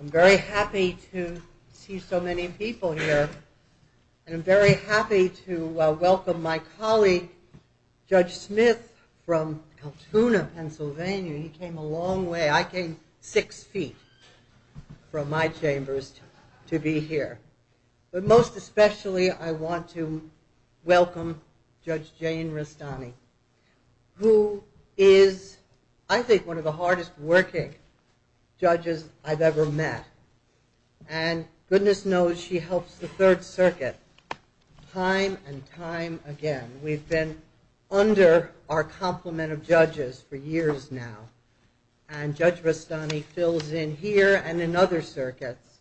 I'm very happy to see so many people here, and I'm very happy to welcome my colleague, Judge Smith, from Kaltuna, Pennsylvania. He came a long way. I came six feet from my chambers to be here. But most especially, I want to welcome Judge Jane Rastani, who is, I think, one of the hardest-working judges I've ever met. And goodness knows, she helps the Third Circuit time and time again. We've been under our complement of judges for years now, and Judge Rastani fills in here and in other circuits,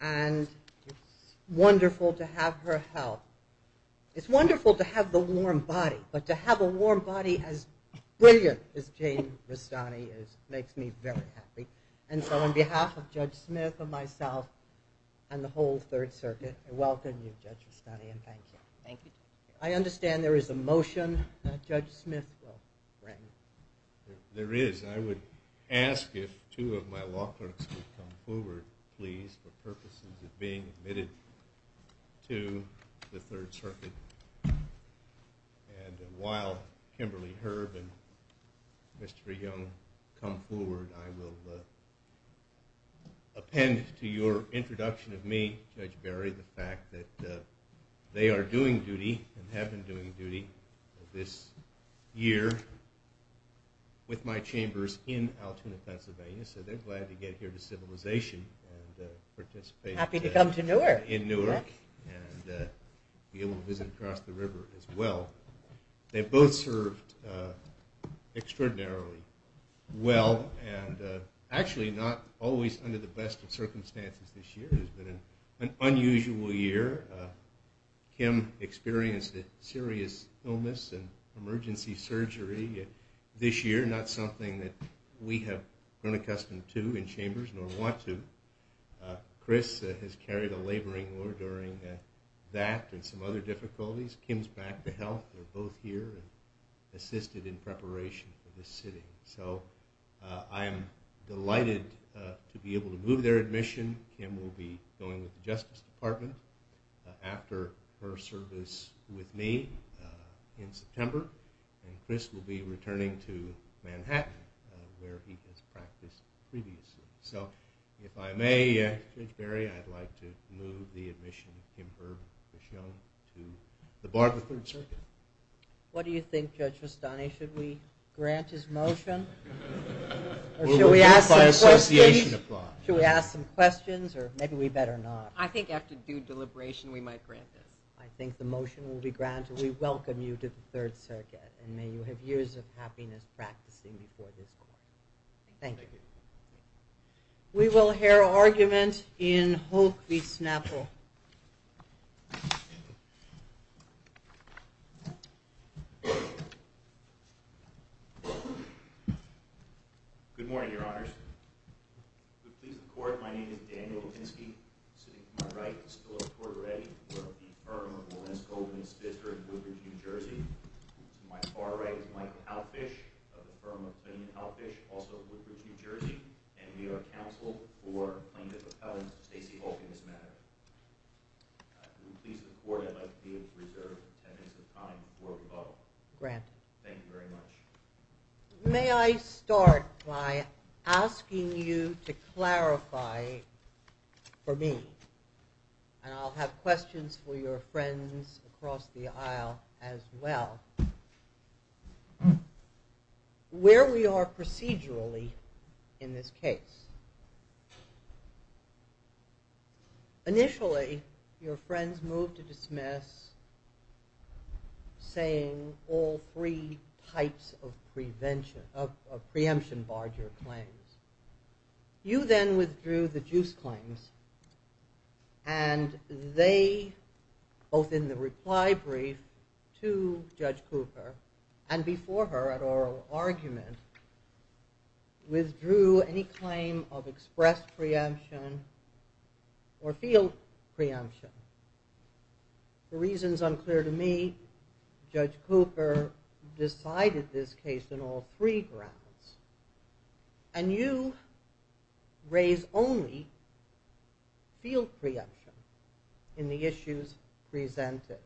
and it's wonderful to have her help. It's wonderful to have the warm body, but to have a warm body as brilliant as Jane Rastani makes me very happy. And so on behalf of Judge Smith and myself and the whole Third Circuit, I welcome you, Judge Rastani, and thank you. Thank you. I understand there is a motion that Judge Smith will bring. There is. I would ask if two of my law clerks would come forward, please, for purposes of being admitted to the Third Circuit. And while Kimberly Herb and Mr. Young come forward, I will append to your introduction of me, Judge Berry, the fact that they are doing duty, and have been doing duty, this year with my chambers in Altoona, Pennsylvania. So they're glad to get here to Civilization and participate in Newark and be able to visit across the river as well. They've both served extraordinarily well and actually not always under the best of circumstances this year. It's been an unusual year. Kim experienced a serious illness and emergency surgery this year, not something that we have grown accustomed to in chambers, nor want to. Chris has carried a laboring war during that and some other difficulties. Kim's back to health. They're both here and assisted in preparation for this sitting. So I am delighted to be able to move their admission. Kim will be going with the Justice Department after her service with me in September. And Chris will be returning to Manhattan, where he has practiced previously. So if I may, Judge Berry, I'd like to move the admission of Kim Herb and Chris Young to the bar of the Third Circuit. What do you think, Judge Rustani? Should we grant his motion? Or should we ask some questions? Should we ask some questions or maybe we better not? I think after due deliberation we might grant this. I think the motion will be granted. We welcome you to the Third Circuit. And may you have years of happiness practicing before this court. Thank you. We will hear argument in Hoke v. Snapple. Good morning, Your Honors. To please the Court, my name is Daniel Lipinski. Sitting to my right is Philip Tortoretti. We're of the firm of Lorenz Goldman & Spitzer in Woodbridge, New Jersey. To my far right is Michael Halfish of the firm of Finn Halfish, also in Woodbridge, New Jersey. And we are counsel for plaintiff appellant Stacey Hulk in this matter. To please the Court, I'd like to be able to reserve 10 minutes of time before we vote. Granted. Thank you very much. May I start by asking you to clarify for me, and I'll have questions for your friends across the aisle as well, where we are procedurally in this case. Initially, your friends moved to dismiss, saying all three types of preemption barred your claims. You then withdrew the juice claims, and they, both in the reply brief to Judge Cooper, and before her at oral argument, withdrew any claim of express preemption or field preemption. For reasons unclear to me, Judge Cooper decided this case on all three grounds. And you raise only field preemption in the issues presented.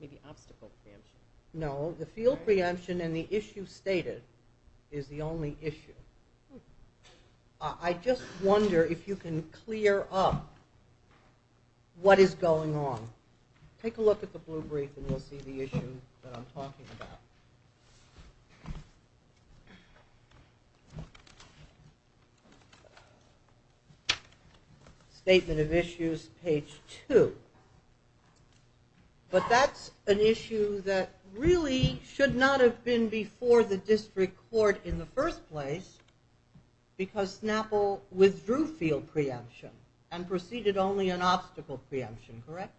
Maybe obstacle preemption. No, the field preemption in the issues stated is the only issue. I just wonder if you can clear up what is going on. Take a look at the blue brief and you'll see the issue that I'm talking about. Statement of Issues, page 2. But that's an issue that really should not have been before the district court in the first place, because Snapple withdrew field preemption and proceeded only on obstacle preemption, correct?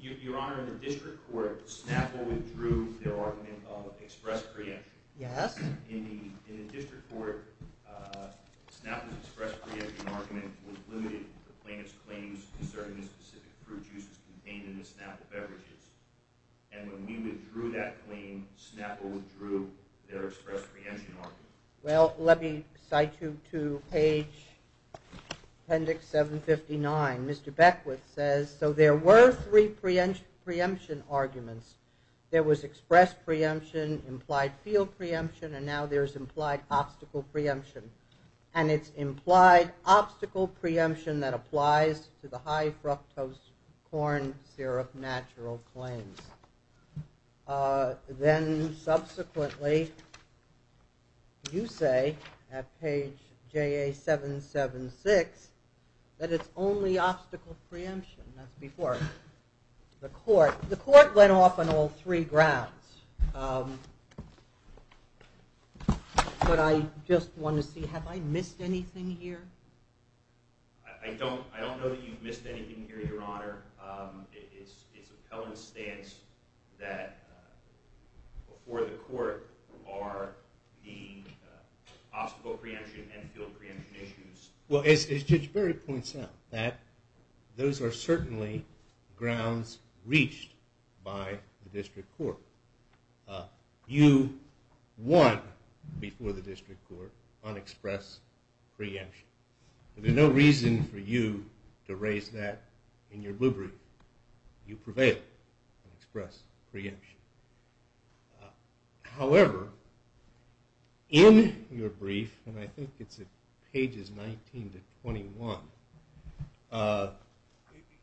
Your Honor, in the district court, Snapple withdrew their argument of express preemption. Yes. In the district court, Snapple's express preemption argument was limited to the plaintiff's claims concerning the specific fruit juices contained in the Snapple beverages. And when we withdrew that claim, Snapple withdrew their express preemption argument. Well, let me cite you to page, appendix 759. Mr. Beckwith says, so there were three preemption arguments. There was express preemption, implied field preemption, and now there's implied obstacle preemption. And it's implied obstacle preemption that applies to the high fructose corn syrup natural claims. Then, subsequently, you say, at page JA776, that it's only obstacle preemption. That's before. The court went off on all three grounds. But I just want to see, have I missed anything here? I don't know that you've missed anything here, Your Honor. It's appellant stance that before the court are the obstacle preemption and field preemption issues. Well, as Judge Berry points out, those are certainly grounds reached by the district court. You won before the district court on express preemption. There's no reason for you to raise that in your blue brief. You prevailed on express preemption. However, in your brief, and I think it's at pages 19 to 21,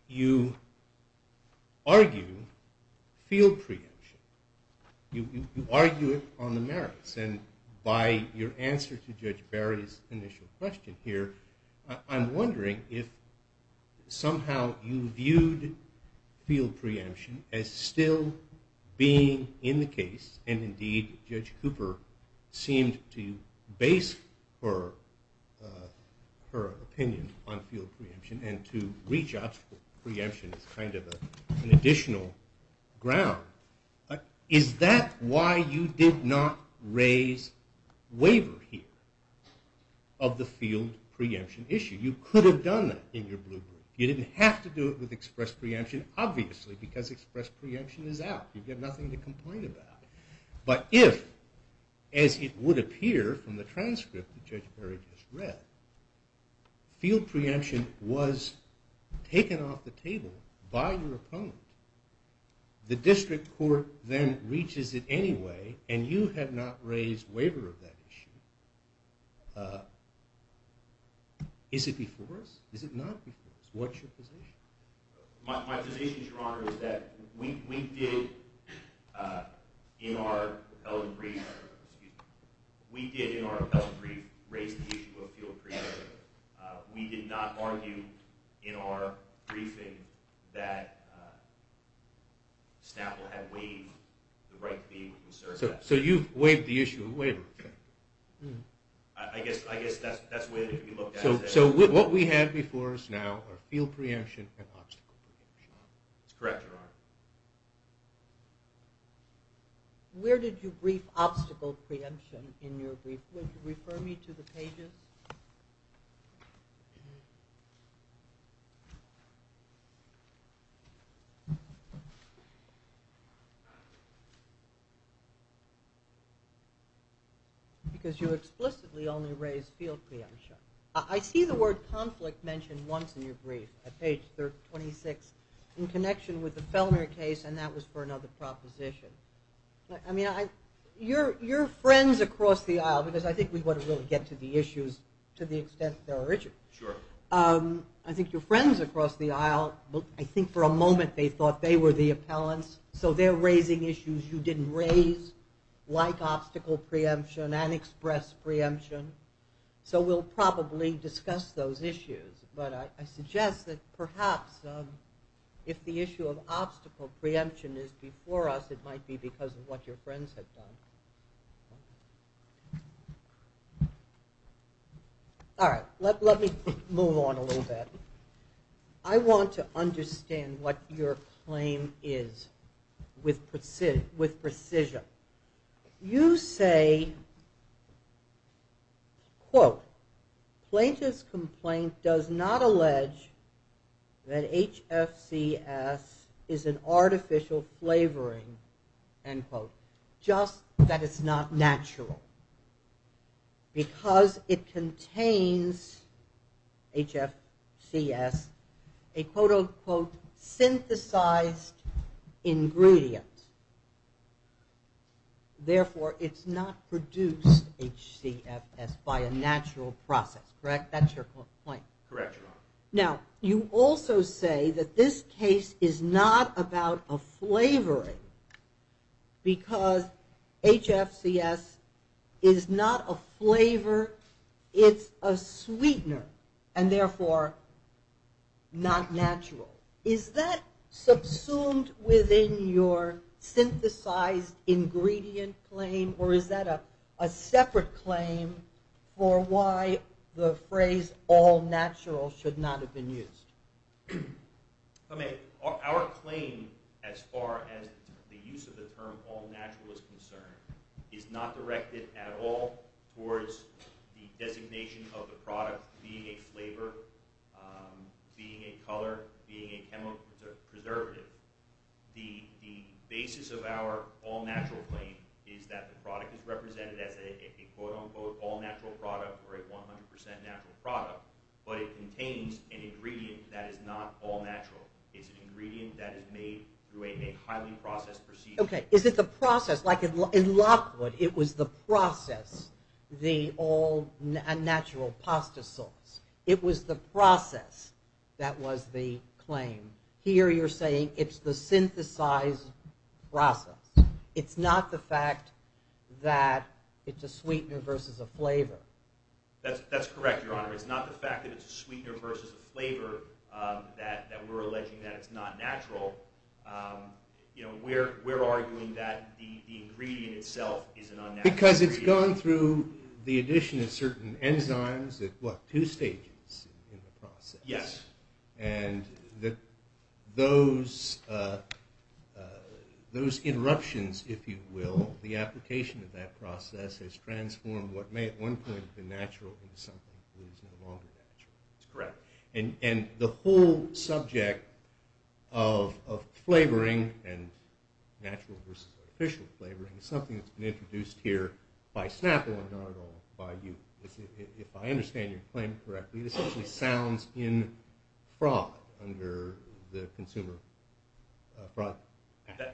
you argue field preemption. You argue it on the merits. And by your answer to Judge Berry's initial question here, I'm wondering if somehow you viewed field preemption as still being in the case, and indeed Judge Cooper seemed to base her opinion on field preemption and to reach obstacle preemption as kind of an additional ground. Is that why you did not raise waiver here of the field preemption issue? You could have done that in your blue brief. You didn't have to do it with express preemption, obviously, because express preemption is out. You've got nothing to complain about. But if, as it would appear from the transcript that Judge Berry just read, field preemption was taken off the table by your opponent, the district court then reaches it anyway, and you have not raised waiver of that issue. Is it before us? Is it not before us? What's your position? My position, Your Honor, is that we did, in our repellent brief, excuse me, we did in our repellent brief raise the issue of field preemption. We did not argue in our briefing that Staple had waived the right fee. So you've waived the issue of waiver. I guess that's the way it could be looked at. So what we have before us now are field preemption and obstacle preemption. That's correct, Your Honor. Where did you brief obstacle preemption in your brief? Would you refer me to the pages? Because you explicitly only raised field preemption. I see the word conflict mentioned once in your brief, at page 26, in connection with the Fellmer case, and that was for another proposition. I mean, you're friends across the aisle, because I think we want to really get to the issues to the extent they're original. Sure. I think you're friends across the aisle. I think for a moment they thought they were the appellants, so they're raising issues you didn't raise, like obstacle preemption and express preemption. So we'll probably discuss those issues. But I suggest that perhaps if the issue of obstacle preemption is before us, it might be because of what your friends have done. All right. Let me move on a little bit. I want to understand what your claim is with precision. You say, quote, Plaintiff's complaint does not allege that HFCS is an artificial flavoring, end quote, just that it's not natural, because it contains, HFCS, a quote, unquote, synthesized ingredient. Therefore, it's not produced, HCFS, by a natural process. Correct? That's your complaint. Correct. Now, you also say that this case is not about a flavoring, because HFCS is not a flavor, it's a sweetener, and therefore not natural. Is that subsumed within your synthesized ingredient claim, or is that a separate claim for why the phrase all natural should not have been used? Our claim, as far as the use of the term all natural is concerned, is not directed at all towards the designation of the product being a flavor, being a color, being a chemical preservative. The basis of our all natural claim is that the product is represented as a, quote, unquote, all natural product, or a 100% natural product, but it contains an ingredient that is not all natural. It's an ingredient that is made through a highly processed procedure. Okay, is it the process, like in Lockwood, it was the process, the all natural pasta sauce. It was the process that was the claim. Here you're saying it's the synthesized process. It's not the fact that it's a sweetener versus a flavor. That's correct, Your Honor. It's not the fact that it's a sweetener versus a flavor, that we're alleging that it's not natural. We're arguing that the ingredient itself is an unnatural ingredient. Because it's gone through the addition of certain enzymes, what, two stages in the process. Yes. And that those interruptions, if you will, the application of that process has transformed what may at one point have been natural into something that is no longer natural. That's correct. And the whole subject of flavoring and natural versus artificial flavoring is something that's been introduced here by Snapple and not at all by you. If I understand your claim correctly, this actually sounds in fraud under the Consumer Fraud Act.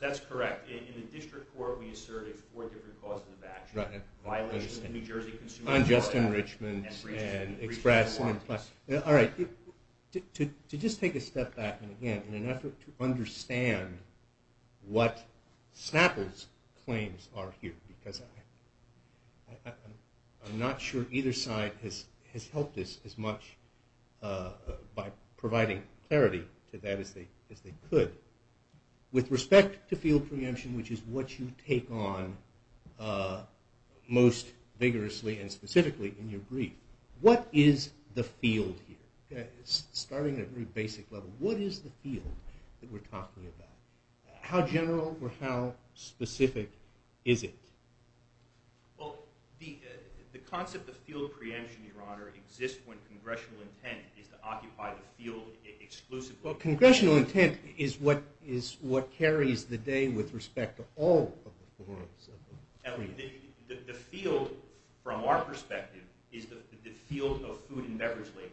That's correct. In the district court, we asserted four different causes of action. Violation of the New Jersey Consumer Fraud Act. Unjust enrichments and expressed and implied. All right, to just take a step back and again, in an effort to understand what Snapple's claims are here, because I'm not sure either side has helped us as much by providing clarity to that as they could. With respect to field preemption, which is what you take on most vigorously and specifically in your brief, what is the field here? Starting at a very basic level, what is the field that we're talking about? How general or how specific is it? Well, the concept of field preemption, Your Honor, exists when congressional intent is to occupy the field exclusively. Well, congressional intent is what carries the day with respect to all of the forums. The field, from our perspective, is the field of food and beverage labeling.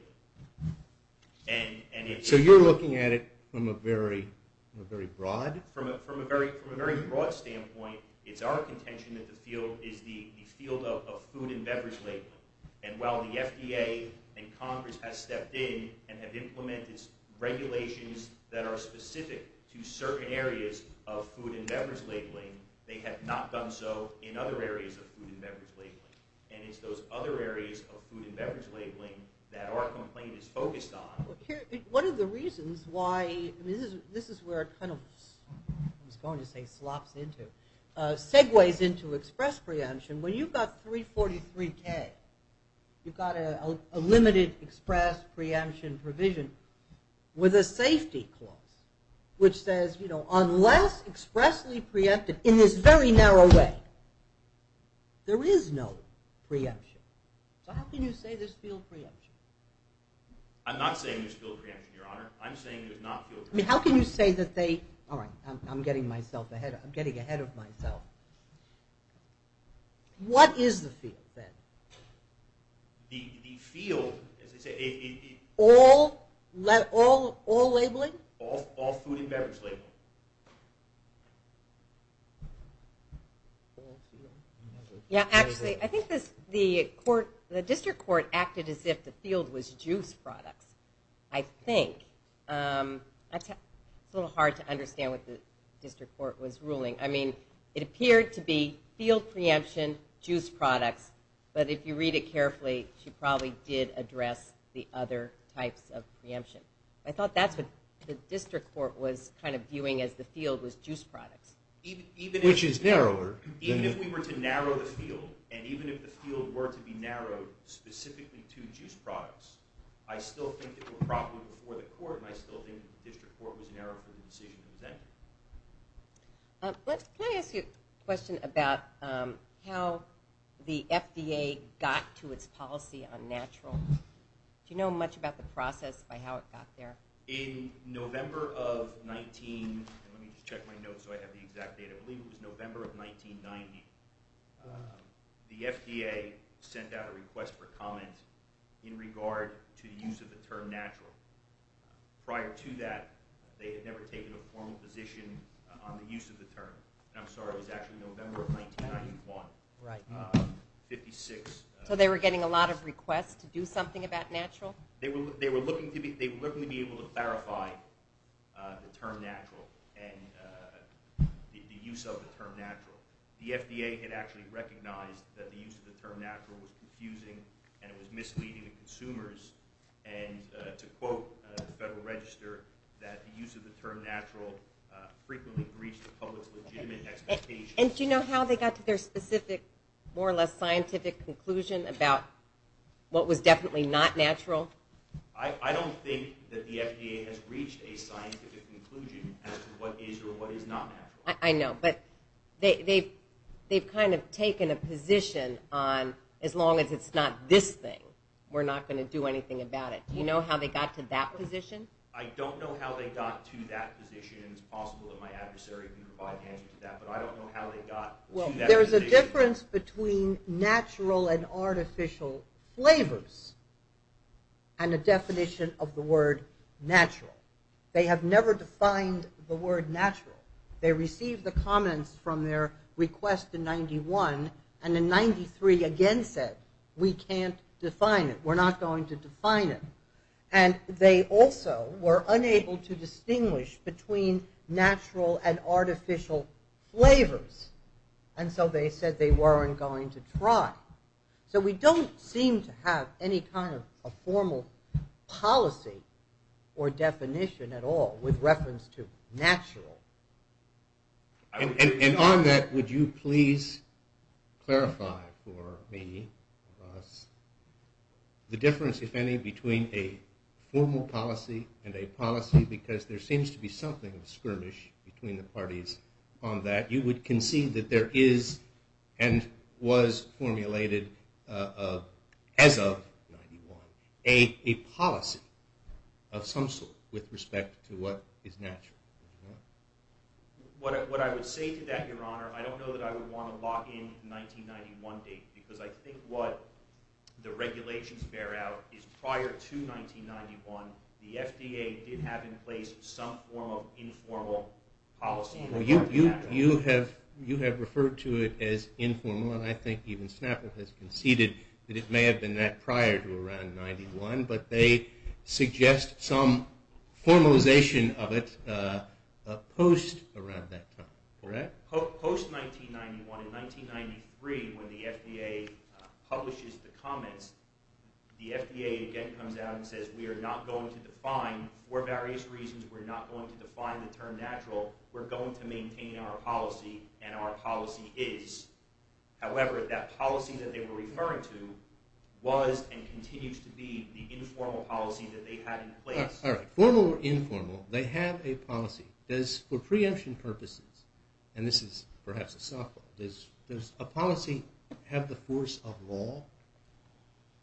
So you're looking at it from a very broad? From a very broad standpoint, it's our contention that the field is the field of food and beverage labeling. And while the FDA and Congress have stepped in and have implemented regulations that are specific to certain areas of food and beverage labeling, they have not done so in other areas of food and beverage labeling. And it's those other areas of food and beverage labeling that our complaint is focused on. One of the reasons why this is where it kind of, I was going to say, slops into, segues into express preemption, when you've got 343K, you've got a limited express preemption provision with a safety clause, which says, you know, unless expressly preempted in this very narrow way, there is no preemption. So how can you say there's field preemption? I'm not saying there's field preemption, Your Honor. I'm saying there's not field preemption. I mean, how can you say that they, all right, I'm getting ahead of myself. What is the field, then? The field, as I say, it's... All labeling? All food and beverage labeling. Yeah, actually, I think the court, the district court acted as if the field was juice products, I think. It's a little hard to understand what the district court was ruling. I mean, it appeared to be field preemption, juice products, but if you read it carefully, she probably did address the other types of preemption. I thought that's what the district court was kind of viewing as the field was juice products. Which is narrower. Even if we were to narrow the field, and even if the field were to be narrowed specifically to juice products, I still think it would probably be for the court, and I still think the district court was narrowed for the decision to present. Can I ask you a question about how the FDA got to its policy on natural? Do you know much about the process by how it got there? In November of 19... Let me just check my notes so I have the exact date. I believe it was November of 1990. The FDA sent out a request for comment in regard to the use of the term natural. Prior to that, they had never taken a formal position on the use of the term. I'm sorry, it was actually November of 1991. 1956. So they were getting a lot of requests to do something about natural? They were looking to be able to clarify the term natural and the use of the term natural. The FDA had actually recognized that the use of the term natural was confusing and it was misleading to consumers, and to quote the Federal Register, that the use of the term natural frequently breached the public's legitimate expectations. Do you know how they got to their specific, more or less scientific conclusion about what was definitely not natural? I don't think that the FDA has reached a scientific conclusion as to what is or what is not natural. I know, but they've kind of taken a position on as long as it's not this thing, we're not going to do anything about it. Do you know how they got to that position? I don't know how they got to that position. It's possible that my adversary can provide the answer to that, but I don't know how they got to that position. Well, there's a difference between natural and artificial flavors and a definition of the word natural. They have never defined the word natural. They received the comments from their request in 91, and in 93 again said, we can't define it, we're not going to define it. And they also were unable to distinguish between natural and artificial flavors, and so they said they weren't going to try. So we don't seem to have any kind of a formal policy or definition at all with reference to natural. And on that, would you please clarify for me, the difference, if any, between a formal policy and a policy, because there seems to be something of a skirmish between the parties on that. You would concede that there is and was formulated as of 91 a policy of some sort with respect to what is natural. What I would say to that, Your Honor, I don't know that I would want to lock in the 1991 date, because I think what the regulations bear out is prior to 1991, the FDA did have in place some form of informal policy. You have referred to it as informal, and I think even Snapple has conceded that it may have been that prior to around 91, but they suggest some formalization of it post around that time, correct? Post 1991, in 1993, when the FDA publishes the comments, the FDA again comes out and says we are not going to define, for various reasons we're not going to define the term natural, we're going to maintain our policy, and our policy is. However, that policy that they were referring to was and continues to be the informal policy that they had in place. All right, formal or informal, they have a policy. Does, for preemption purposes, and this is perhaps a softball, does a policy have the force of law?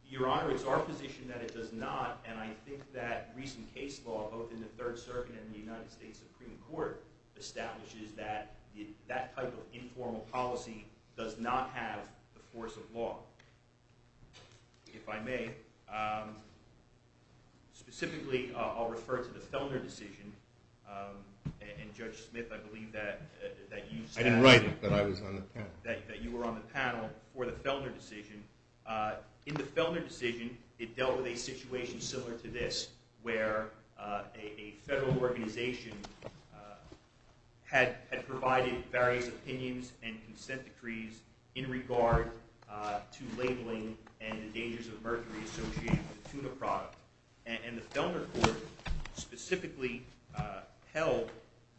Your Honor, it's our position that it does not, and I think that recent case law, both in the Third Circuit and the United States Supreme Court, establishes that that type of informal policy does not have the force of law. If I may, specifically, I'll refer to the Fellner decision, and Judge Smith, I believe that you stated. I didn't write it, that I was on the panel. That you were on the panel for the Fellner decision. In the Fellner decision, it dealt with a situation similar to this, where a federal organization had provided various opinions and consent decrees in regard to labeling and the dangers of mercury associated with the tuna product, and the Fellner court specifically held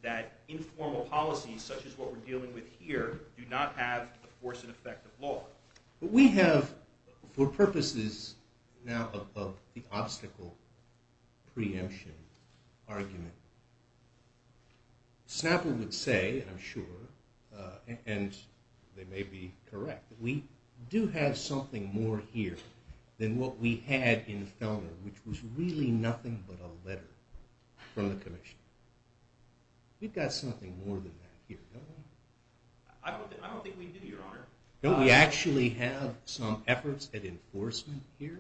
that informal policies, such as what we're dealing with here, do not have the force and effect of law. But we have, for purposes now of the obstacle preemption argument, Snapple would say, I'm sure, and they may be correct, that we do have something more here than what we had in Fellner, which was really nothing but a letter from the commission. We've got something more than that here, don't we? I don't think we do, Your Honor. Don't we actually have some efforts at enforcement here?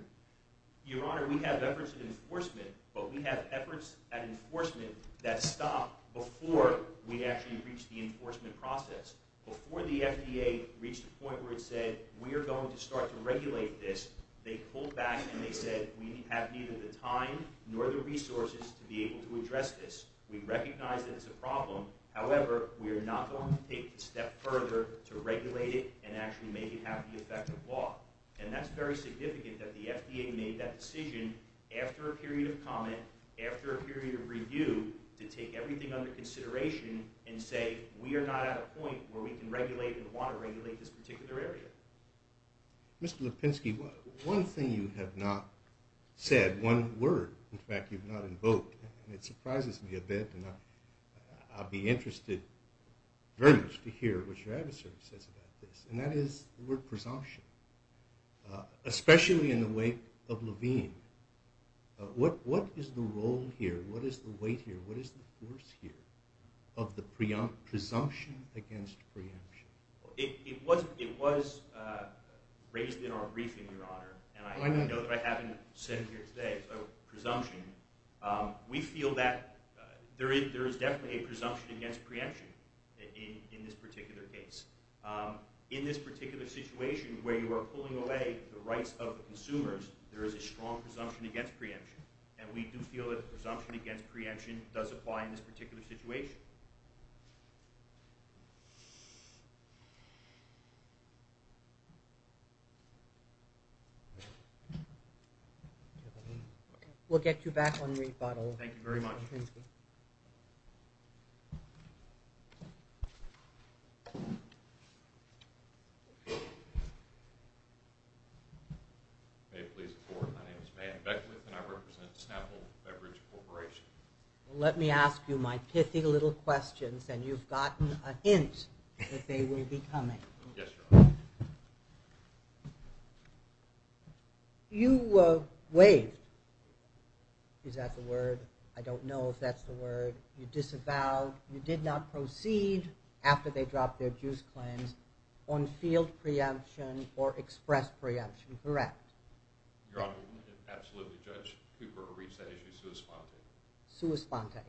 Your Honor, we have efforts at enforcement, but we have efforts at enforcement that stop before we actually reach the enforcement process. Before the FDA reached the point where it said, we are going to start to regulate this, they pulled back and they said, we have neither the time nor the resources to be able to address this. We recognize that it's a problem. However, we are not going to take a step further to regulate it and actually make it have the effect of law. And that's very significant that the FDA made that decision after a period of comment, after a period of review, to take everything under consideration and say, we are not at a point where we can regulate and want to regulate this particular area. Mr. Lipinski, one thing you have not said, one word, in fact, you've not invoked, and it surprises me a bit, and I'll be interested very much to hear what your adversary says about this, and that is the word presumption. Especially in the wake of Levine, what is the role here, what is the weight here, what is the force here of the presumption against preemption? It was raised in our briefing, Your Honor, and I know that I haven't said it here today, so presumption. We feel that there is definitely a presumption against preemption in this particular case. In this particular situation where you are pulling away the rights of the consumers, there is a strong presumption against preemption, and we do feel that the presumption against preemption does apply in this particular situation. We'll get you back on rebuttal. Thank you very much. May it please the Court, my name is Mayor Beckwith, and I represent Snapple Beverage Corporation. Let me ask you my pithy little questions, and you've gotten a hint that they will be coming. Yes, Your Honor. You waived, is that the word? I don't know if that's the word. You disavowed. You disavowed. You did not proceed after they dropped their juice claims on field preemption or express preemption, correct? Your Honor, we wouldn't have absolutely judged Cooper or reached that issue sui sponte. Sui sponte.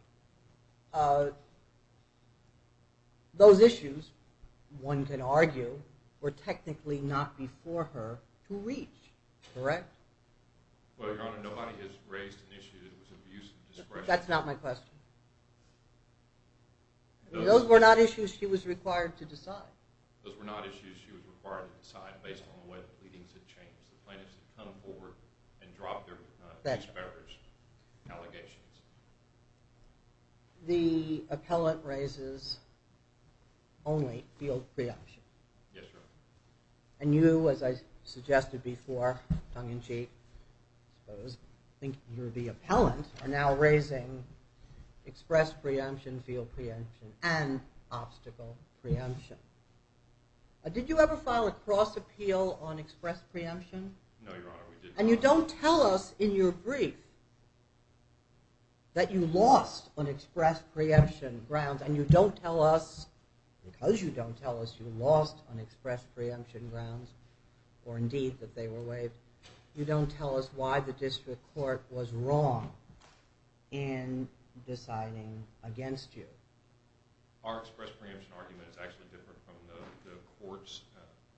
Those issues, one can argue, were technically not before her to reach, correct? Well, Your Honor, nobody has raised an issue that was of use and discretion. That's not my question. Those were not issues she was required to decide. Those were not issues she was required to decide based on the way the pleadings had changed. The plaintiffs had come forward and dropped their disparaged allegations. The appellant raises only field preemption. Yes, Your Honor. And you, as I suggested before, tongue-in-cheek, I think you're the appellant, are now raising express preemption, field preemption, and obstacle preemption. Did you ever file a cross-appeal on express preemption? No, Your Honor, we did not. And you don't tell us in your brief that you lost on express preemption grounds, and you don't tell us because you don't tell us you lost on express preemption grounds, or indeed that they were waived, you don't tell us why the district court was wrong in deciding against you. Our express preemption argument is actually different from the court's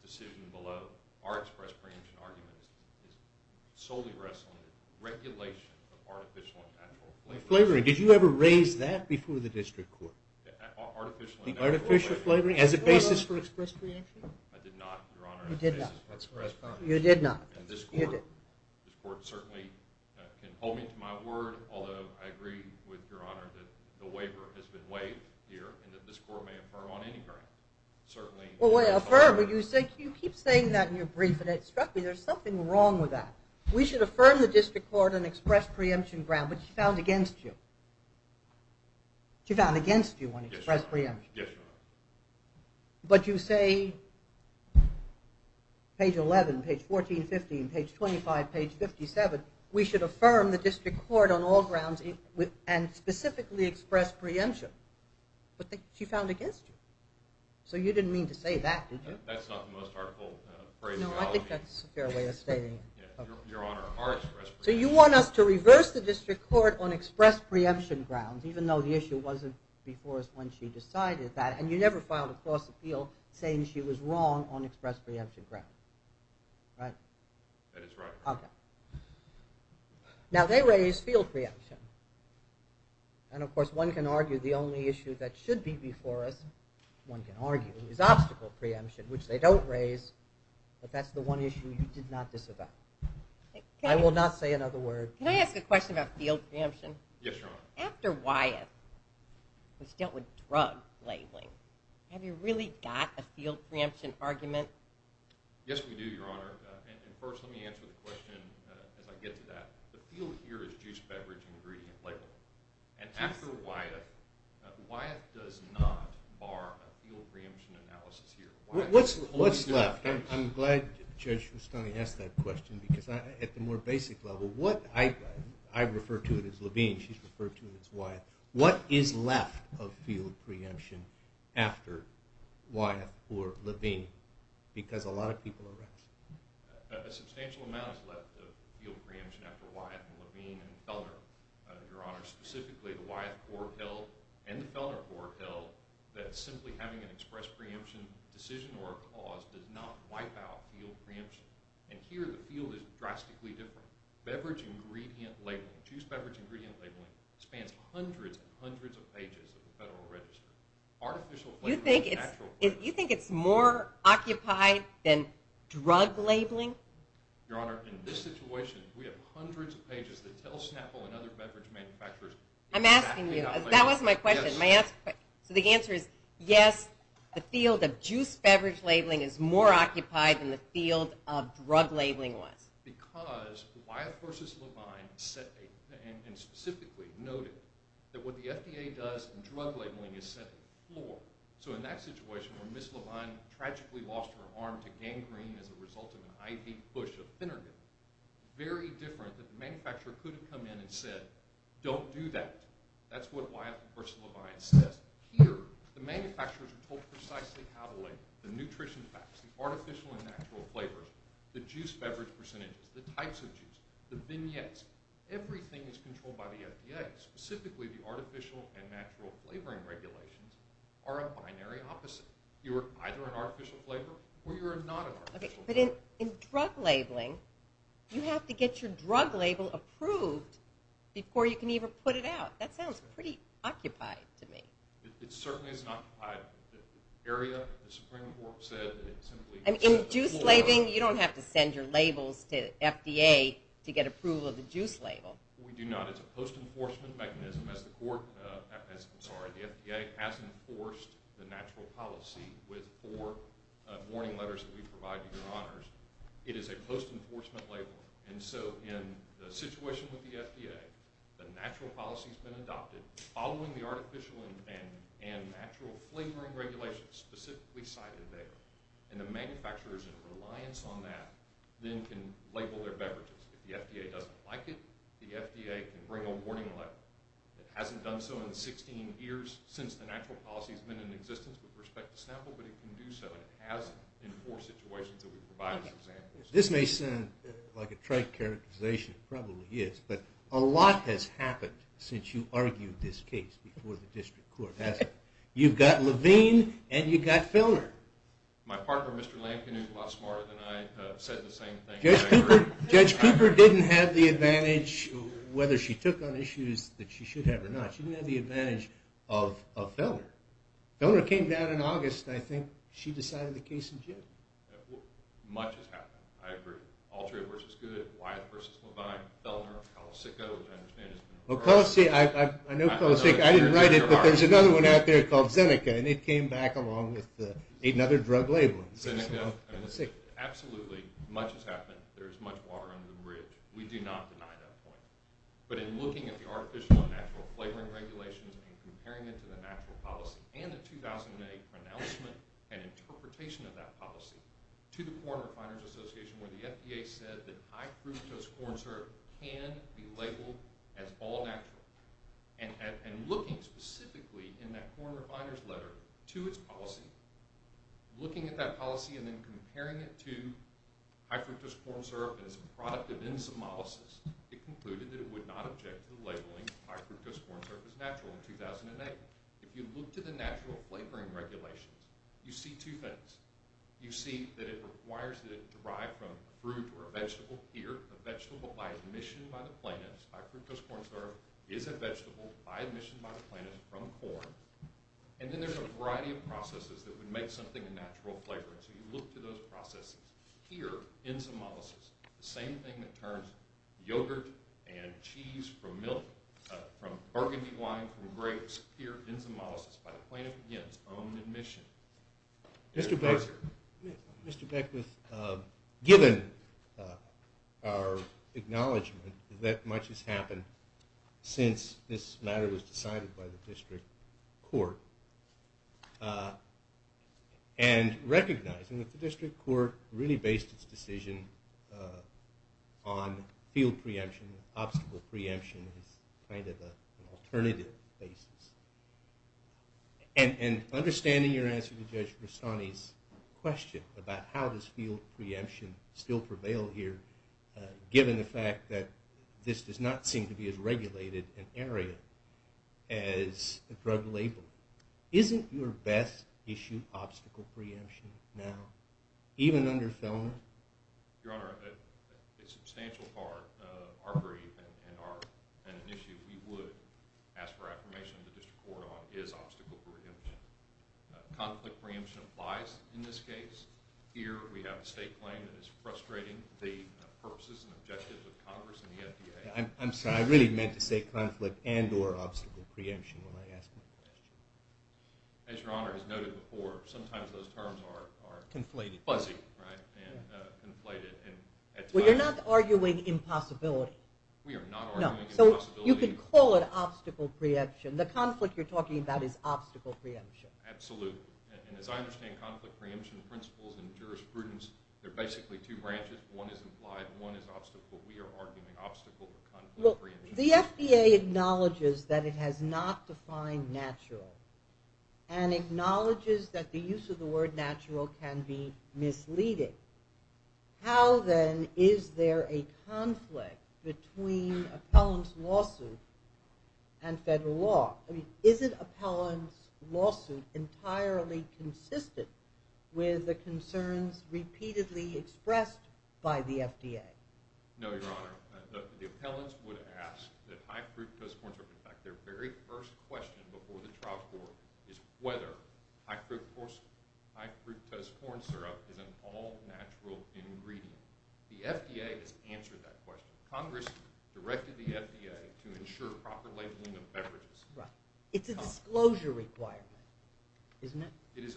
decision below. Our express preemption argument is solely wrestling with regulation of artificial and natural flavoring. Flavoring, did you ever raise that before the district court? Artificial and natural flavoring. Artificial flavoring as a basis for express preemption? I did not, Your Honor. You did not. You did not. And this court certainly can hold me to my word, although I agree with Your Honor that the waiver has been waived here and that this court may affirm on any ground. Well, affirm, but you keep saying that in your brief, and it struck me there's something wrong with that. We should affirm the district court on express preemption grounds, but you found against you. You found against you on express preemption. Yes, Your Honor. But you say page 11, page 14, 15, page 25, page 57, we should affirm the district court on all grounds and specifically express preemption, but she found against you. So you didn't mean to say that, did you? That's not the most artful phrase. No, I think that's a fair way of stating it. Your Honor, our express preemption. So you want us to reverse the district court on express preemption grounds, even though the issue wasn't before us when she decided that, and you never filed a false appeal saying she was wrong on express preemption grounds. Right? That is right, Your Honor. Okay. Now, they raise field preemption, and, of course, one can argue the only issue that should be before us, one can argue, is obstacle preemption, which they don't raise, but that's the one issue you did not disavow. I will not say another word. Can I ask a question about field preemption? Yes, Your Honor. After Wyeth was dealt with drug labeling, have you really got a field preemption argument? Yes, we do, Your Honor. And first let me answer the question as I get to that. The field here is juice, beverage, ingredient, label. And after Wyeth, Wyeth does not bar a field preemption analysis here. What's left? I'm glad Judge Rustani asked that question because at the more basic level, I refer to it as Levine, she's referred to it as Wyeth. What is left of field preemption after Wyeth or Levine? Because a lot of people are right. A substantial amount is left of field preemption after Wyeth and Levine and Felner. Your Honor, specifically the Wyeth court held and the Felner court held that simply having an express preemption decision or a cause does not wipe out field preemption. And here the field is drastically different. Beverage ingredient labeling, juice beverage ingredient labeling, spans hundreds and hundreds of pages of the Federal Register. Artificial labeling is natural labeling. You think it's more occupied than drug labeling? Your Honor, in this situation, we have hundreds of pages that tell Snapple and other beverage manufacturers exactly how labeling works. I'm asking you. That was my question. So the answer is yes, the field of juice beverage labeling is more occupied than the field of drug labeling was. Because Wyeth versus Levine said and specifically noted that what the FDA does in drug labeling is set the floor. So in that situation where Ms. Levine tragically lost her arm to gangrene as a result of an IV push of Phenergan, very different that the manufacturer could have come in and said don't do that. That's what Wyeth versus Levine says. Here the manufacturers are told precisely how to label. The nutrition facts, the artificial and natural flavors, the juice beverage percentages, the types of juice, the vignettes. Everything is controlled by the FDA. Specifically the artificial and natural flavoring regulations are a binary opposite. You're either an artificial flavorer or you're not an artificial flavorer. Okay, but in drug labeling, you have to get your drug label approved before you can even put it out. That sounds pretty occupied to me. It certainly is not occupied. The area, the Supreme Court said that it simply set the floor. In juice labeling, you don't have to send your labels to FDA to get approval of the juice label. We do not. It's a post-enforcement mechanism. The FDA has enforced the natural policy with four warning letters that we provide to your honors. It is a post-enforcement label. So in the situation with the FDA, the natural policy has been adopted following the artificial and natural flavoring regulations specifically cited there. And the manufacturers, in reliance on that, then can label their beverages. If the FDA doesn't like it, the FDA can bring a warning letter. It hasn't done so in 16 years since the natural policy has been in existence with respect to Snapple, but it can do so. It has in four situations that we provide as examples. This may sound like a trite characterization. It probably is, but a lot has happened since you argued this case before the district court. You've got Levine and you've got Fellner. My partner, Mr. Lampkin, is a lot smarter than I. He said the same thing. Judge Cooper didn't have the advantage, whether she took on issues that she should have or not. She didn't have the advantage of Fellner. Fellner came down in August, and I think she decided the case in June. Much has happened. I agree. Altria v. Good, Wyatt v. Levine, Fellner, Colesico, which I understand has been reversed. Colesico, I know Colesico. I didn't write it, but there's another one out there called Zeneca, and it came back along with another drug label. Zeneca, absolutely, much has happened. There's much water under the bridge. We do not deny that point. But in looking at the artificial and natural flavoring regulations and comparing it to the natural policy and the 2008 pronouncement and interpretation of that policy to the Corn Refiners Association, where the FDA said that high-fructose corn syrup can be labeled as all-natural, and looking specifically in that Corn Refiners letter to its policy, looking at that policy and then comparing it to high-fructose corn syrup as a product of enzymolysis, it concluded that it would not object to labeling high-fructose corn syrup as natural in 2008. If you look to the natural flavoring regulations, you see two things. You see that it requires that it derive from a fruit or a vegetable. Here, a vegetable by admission by the plaintiff, high-fructose corn syrup, is a vegetable by admission by the plaintiff from corn. And then there's a variety of processes that would make something a natural flavor. So you look to those processes. Here, enzymolysis, the same thing that turns yogurt and cheese from milk, from burgundy wine from grapes, here, enzymolysis by the plaintiff against own admission. Mr. Beckwith, given our acknowledgment that much has happened since this matter was decided by the district court and recognizing that the district court really based its decision on field preemption, obstacle preemption as kind of an alternative basis, and understanding your answer to Judge Rastani's question about how does field preemption still prevail here, given the fact that this does not seem to be as regulated an area as a drug label, isn't your best issue obstacle preemption now, even under Fellner? Your Honor, a substantial part of our brief and an issue we would ask for affirmation of the district court on is obstacle preemption. Conflict preemption applies in this case. Here we have a state claim that is frustrating the purposes and objectives of Congress and the FDA. I'm sorry. I really meant to say conflict and or obstacle preemption when I asked my question. As Your Honor has noted before, sometimes those terms are fuzzy and conflated. Well, you're not arguing impossibility. We are not arguing impossibility. You can call it obstacle preemption. The conflict you're talking about is obstacle preemption. Absolutely. And as I understand conflict preemption principles and jurisprudence, they're basically two branches. One is implied, one is obstacle. We are arguing obstacle for conflict preemption. The FDA acknowledges that it has not defined natural and acknowledges that the use of the word natural can be misleading. How, then, is there a conflict between appellant's lawsuit and federal law? I mean, isn't appellant's lawsuit entirely consistent with the concerns repeatedly expressed by the FDA? No, Your Honor. The appellants would ask that high-fructose corn syrup, in fact their very first question before the trial court, is whether high-fructose corn syrup is an all-natural ingredient. The FDA has answered that question. Congress directed the FDA to ensure proper labeling of beverages. Right. It's a disclosure requirement, isn't it?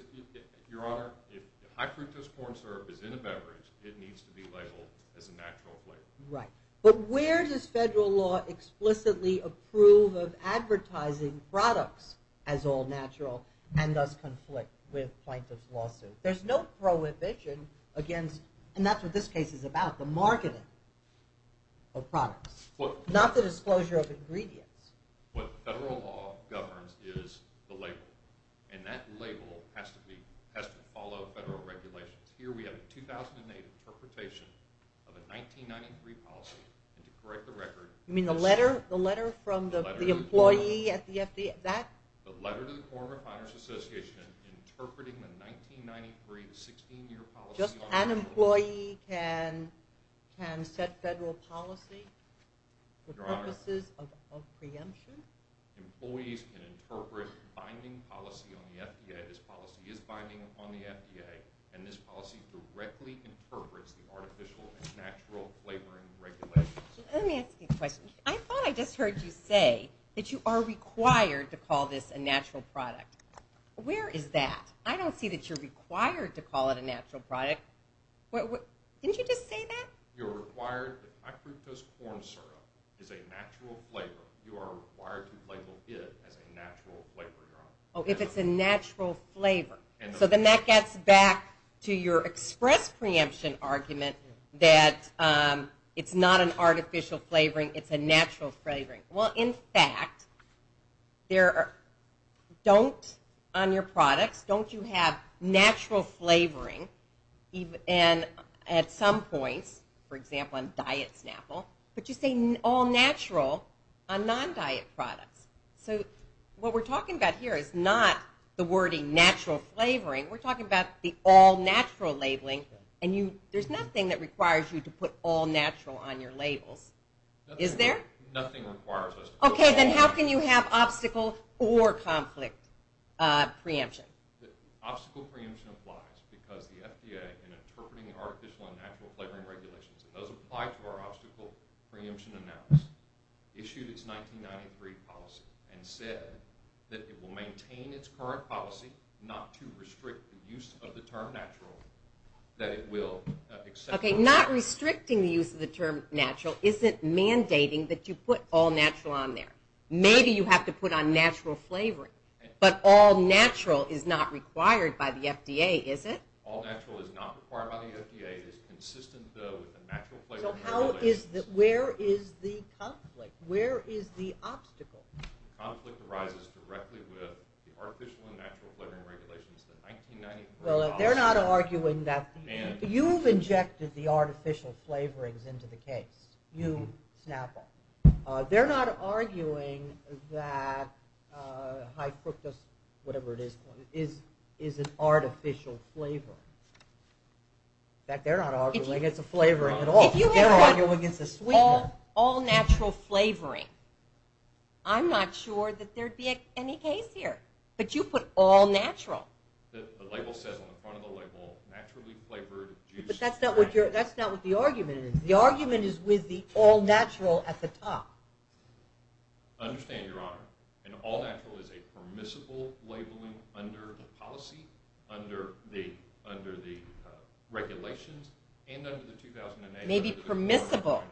Your Honor, if high-fructose corn syrup is in a beverage, it needs to be labeled as a natural flavor. Right. But where does federal law explicitly approve of advertising products as all-natural and thus conflict with plaintiff's lawsuit? There's no prohibition against, and that's what this case is about, the marketing of products, not the disclosure of ingredients. What federal law governs is the label. And that label has to follow federal regulations. Here we have a 2008 interpretation of a 1993 policy. And to correct the record... You mean the letter from the employee at the FDA? The letter to the Corporate Finance Association interpreting the 1993 16-year policy... Just an employee can set federal policy for purposes of preemption? Employees can interpret binding policy on the FDA. This policy is binding on the FDA, and this policy directly interprets the artificial and natural flavoring regulations. Let me ask you a question. I thought I just heard you say that you are required to call this a natural product. Where is that? I don't see that you're required to call it a natural product. Didn't you just say that? You're required that high-fructose corn syrup is a natural flavor. You are required to label it as a natural flavor, Your Honor. Oh, if it's a natural flavor. So then that gets back to your express preemption argument that it's not an artificial flavoring, it's a natural flavoring. Well, in fact, don't on your products, don't you have natural flavoring at some points, for example, on diet Snapple, but you say all natural on non-diet products. So what we're talking about here is not the wording natural flavoring. We're talking about the all natural labeling, and there's nothing that requires you to put all natural on your labels. Nothing requires us to call it that. Okay, then how can you have obstacle or conflict preemption? Obstacle preemption applies because the FDA, in interpreting the artificial and natural flavoring regulations, and those apply to our obstacle preemption analysis, issued its 1993 policy and said that it will maintain its current policy not to restrict the use of the term natural, that it will accept... Okay, not restricting the use of the term natural isn't mandating that you put all natural on there. Maybe you have to put on natural flavoring, but all natural is not required by the FDA, is it? All natural is not required by the FDA. It is consistent, though, with the natural flavoring regulations. So where is the conflict? Where is the obstacle? The conflict arises directly with the artificial and natural flavoring regulations, the 1993 policy... Well, they're not arguing that... You've injected the artificial flavorings into the case. You, Snapple. They're not arguing that high fructose, whatever it is, is an artificial flavor. In fact, they're not arguing it's a flavoring at all. They're arguing it's a sweetener. All natural flavoring. I'm not sure that there'd be any case here. But you put all natural. The label says on the front of the label, naturally flavored juice... But that's not what the argument is. The argument is with the all natural at the top. I understand, Your Honor. And all natural is a permissible labeling under the policy, under the regulations, and under the 2008... Maybe permissible.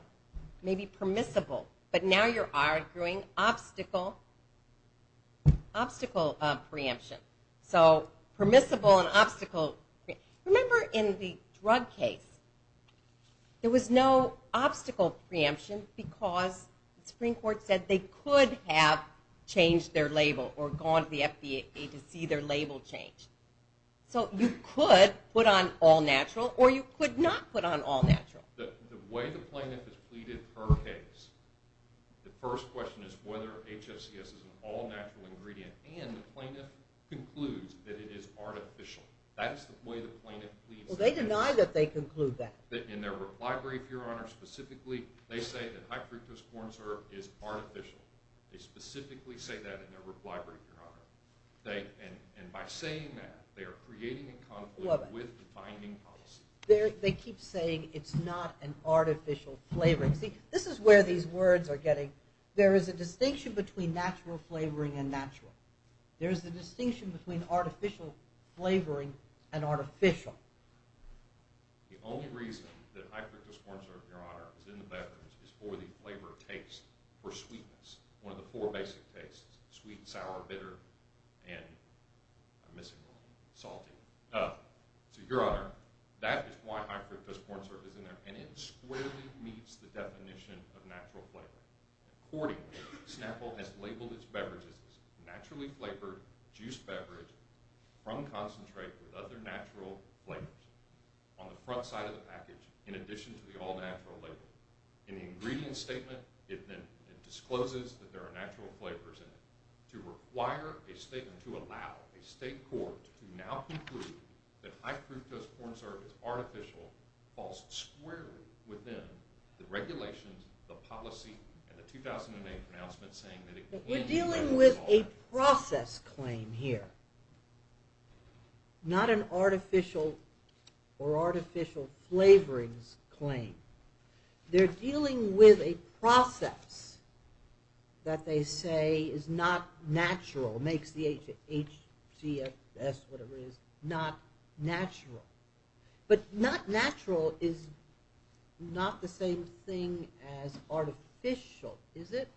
Maybe permissible. But now you're arguing obstacle of preemption. So permissible and obstacle... Remember in the drug case, there was no obstacle preemption because the Supreme Court said they could have changed their label or gone to the FDA to see their label changed. So you could put on all natural or you could not put on all natural. The way the plaintiff has pleaded her case, the first question is whether HSCS is an all natural ingredient. And the plaintiff concludes that it is artificial. That is the way the plaintiff pleads. Well, they deny that they conclude that. In their reply brief, Your Honor, specifically, they say that high fructose corn syrup is artificial. They specifically say that in their reply brief, Your Honor. And by saying that, they are creating a conflict with the binding policy. They keep saying it's not an artificial flavoring. See, this is where these words are getting... There is a distinction between natural flavoring and natural. There is a distinction between artificial flavoring and artificial. The only reason that high fructose corn syrup, Your Honor, is in the beverage is for the flavor taste, for sweetness. One of the four basic tastes, sweet, sour, bitter, and I'm missing one, salty. So, Your Honor, that is why high fructose corn syrup is in there. And it squarely meets the definition of natural flavoring. Accordingly, Snapple has labeled its beverages naturally flavored juice beverage from concentrate with other natural flavors on the front side of the package in addition to the all natural label. In the ingredient statement, it then discloses that there are natural flavors in it. To require a statement to allow a state court to now conclude that high fructose corn syrup is artificial falls squarely within the regulations, the policy, and the 2008 pronouncement saying that it... We're dealing with a process claim here, not an artificial or artificial flavorings claim. They're dealing with a process that they say is not natural, makes the HGFS, whatever it is, not natural. But not natural is not the same thing as artificial, is it?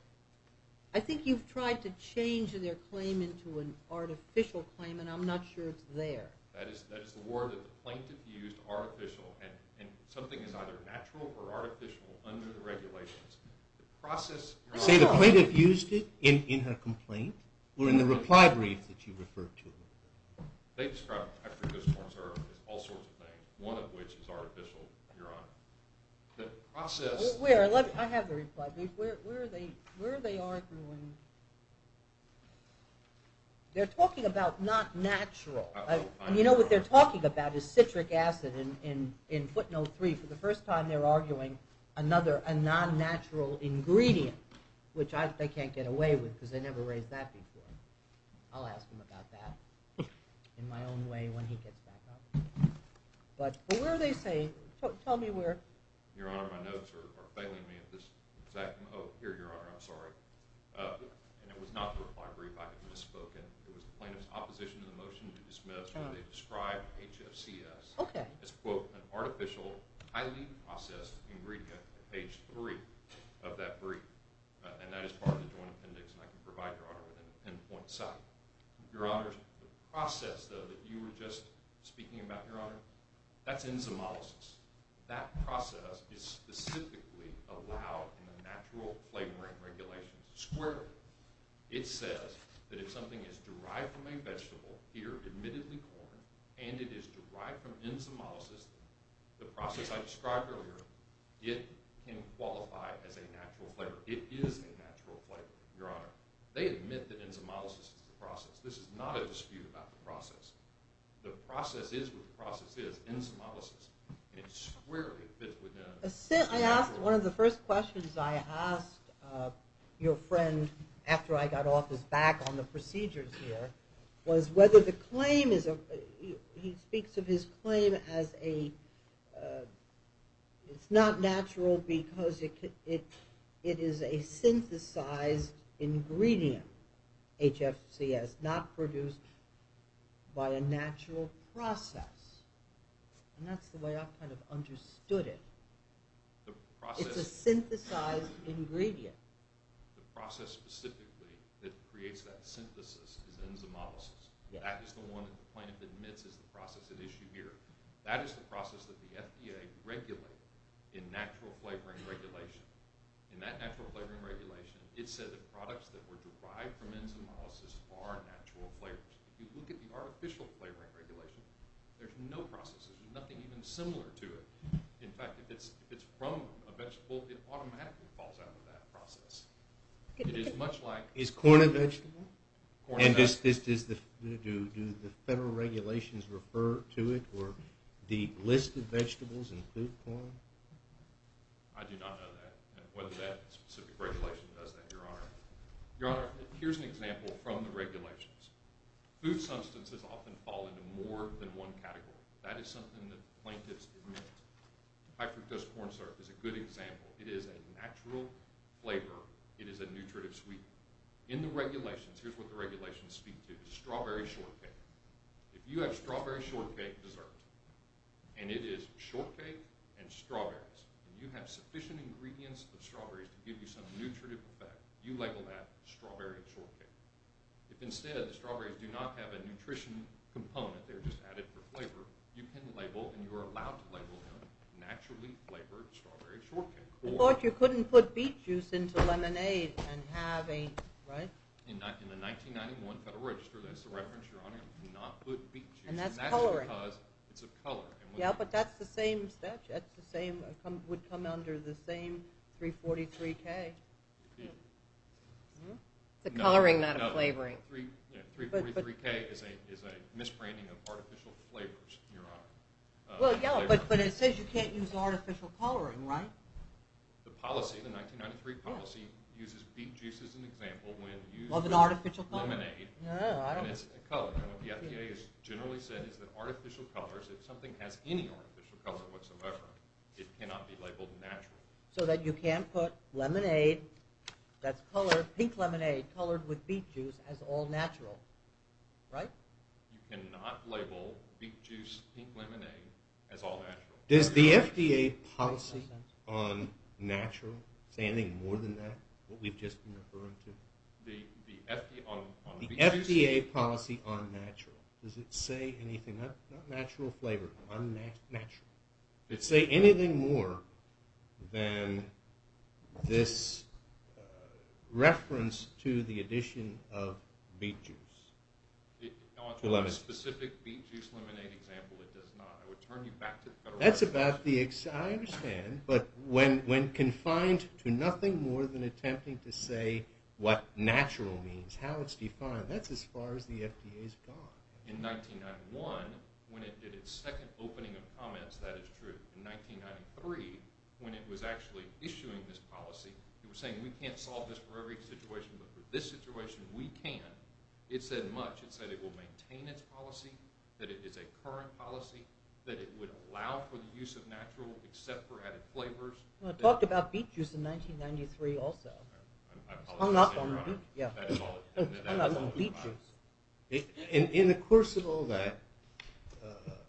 I think you've tried to change their claim into an artificial claim, and I'm not sure it's there. That is the word that the plaintiff used, artificial, and something is either natural or artificial under the regulations. The process... You're saying the plaintiff used it in her complaint or in the reply brief that you referred to? They described high fructose corn syrup as all sorts of things, one of which is artificial, Your Honor. The process... Where? I have the reply brief. Where are they arguing? They're talking about not natural. You know what they're talking about is citric acid in footnote 3. For the first time they're arguing another, a non-natural ingredient, which they can't get away with because they never raised that before. I'll ask them about that in my own way when he gets back up. But where are they saying? Tell me where. Your Honor, my notes are failing me at this exact moment. Oh, here, Your Honor, I'm sorry. And it was not the reply brief I had misspoken. It was the plaintiff's opposition to the motion to dismiss when they described HFCS as, quote, an artificial, highly processed ingredient at page 3 of that brief, and that is part of the joint appendix, and I can provide, Your Honor, with an pinpoint site. Your Honor, the process, though, that you were just speaking about, Your Honor, that's enzymolysis. That process is specifically allowed in the natural flavoring regulations squarely. It says that if something is derived from a vegetable, here admittedly corn, and it is derived from enzymolysis, the process I described earlier, it can qualify as a natural flavor. It is a natural flavor, Your Honor. They admit that enzymolysis is the process. This is not a dispute about the process. The process is what the process is, enzymolysis. It's squarely. I asked, one of the first questions I asked your friend after I got off his back on the procedures here was whether the claim is, he speaks of his claim as a, it's not natural because it is a synthesized ingredient, HFCS, not produced by a natural process. And that's the way I kind of understood it. It's a synthesized ingredient. The process specifically that creates that synthesis is enzymolysis. That is the one that the plaintiff admits is the process at issue here. That is the process that the FDA regulated in natural flavoring regulation. In that natural flavoring regulation, it said that products that were derived from enzymolysis are natural flavors. If you look at the artificial flavoring regulation, there's no process, there's nothing even similar to it. In fact, if it's from a vegetable, it automatically falls out of that process. It is much like- Is corn a vegetable? And do the federal regulations refer to it, or do listed vegetables include corn? I do not know that, whether that specific regulation does that, Your Honor. Your Honor, here's an example from the regulations. Food substances often fall into more than one category. That is something that plaintiffs admit. High fructose corn syrup is a good example. It is a natural flavor. It is a nutritive sweetener. In the regulations, here's what the regulations speak to. Strawberry shortcake. If you have strawberry shortcake dessert, and it is shortcake and strawberries, and you have sufficient ingredients of strawberries to give you some nutritive effect, you label that strawberry shortcake. If instead, the strawberries do not have a nutrition component, they're just added for flavor, you can label, and you are allowed to label them, naturally flavored strawberry shortcake. I thought you couldn't put beet juice into lemonade and have a- In the 1991 Federal Register, that's the reference, Your Honor. You cannot put beet juice- And that's coloring. And that's because it's of color. Yeah, but that's the same- would come under the same 343K. The coloring, not a flavoring. 343K is a misbranding of artificial flavors, Your Honor. Well, yeah, but it says you can't use artificial coloring, right? The policy, the 1993 policy, uses beet juice as an example, when used with lemonade, and it's a color. And what the FDA has generally said is that artificial colors, if something has any artificial color whatsoever, it cannot be labeled naturally. So that you can't put lemonade that's colored, pink lemonade, colored with beet juice as all natural, right? You cannot label beet juice, pink lemonade, as all natural. Does the FDA policy on natural say anything more than that, what we've just been referring to? The FDA on beet juice- The FDA policy on natural, does it say anything? Not natural flavor, unnatural. Does it say anything more than this reference to the addition of beet juice? To a specific beet juice lemonade example, it does not. I would turn you back to the federal- That's about the- I understand, but when confined to nothing more than attempting to say what natural means, how it's defined, that's as far as the FDA's gone. In 1991, when it did its second opening of comments, that is true. In 1993, when it was actually issuing this policy, it was saying we can't solve this for every situation, but for this situation we can. It said much. It said it will maintain its policy, that it is a current policy, that it would allow for the use of natural except for added flavors. Well, it talked about beet juice in 1993 also. I apologize. I'm not on beet juice. In the course of all that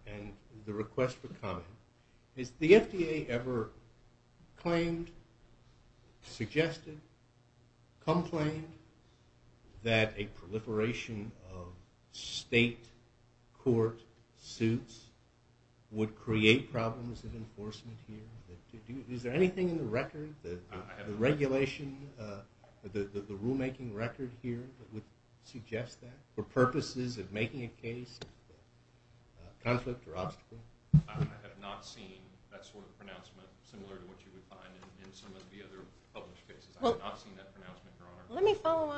and the request for comment, has the FDA ever claimed, suggested, complained that a proliferation of state court suits would create problems in enforcement here? Is there anything in the record, the regulation, the rulemaking record here that would suggest that for purposes of making a case of conflict or obstacle? I have not seen that sort of pronouncement similar to what you would find in some of the other published cases. I have not seen that pronouncement, Your Honor. Let me follow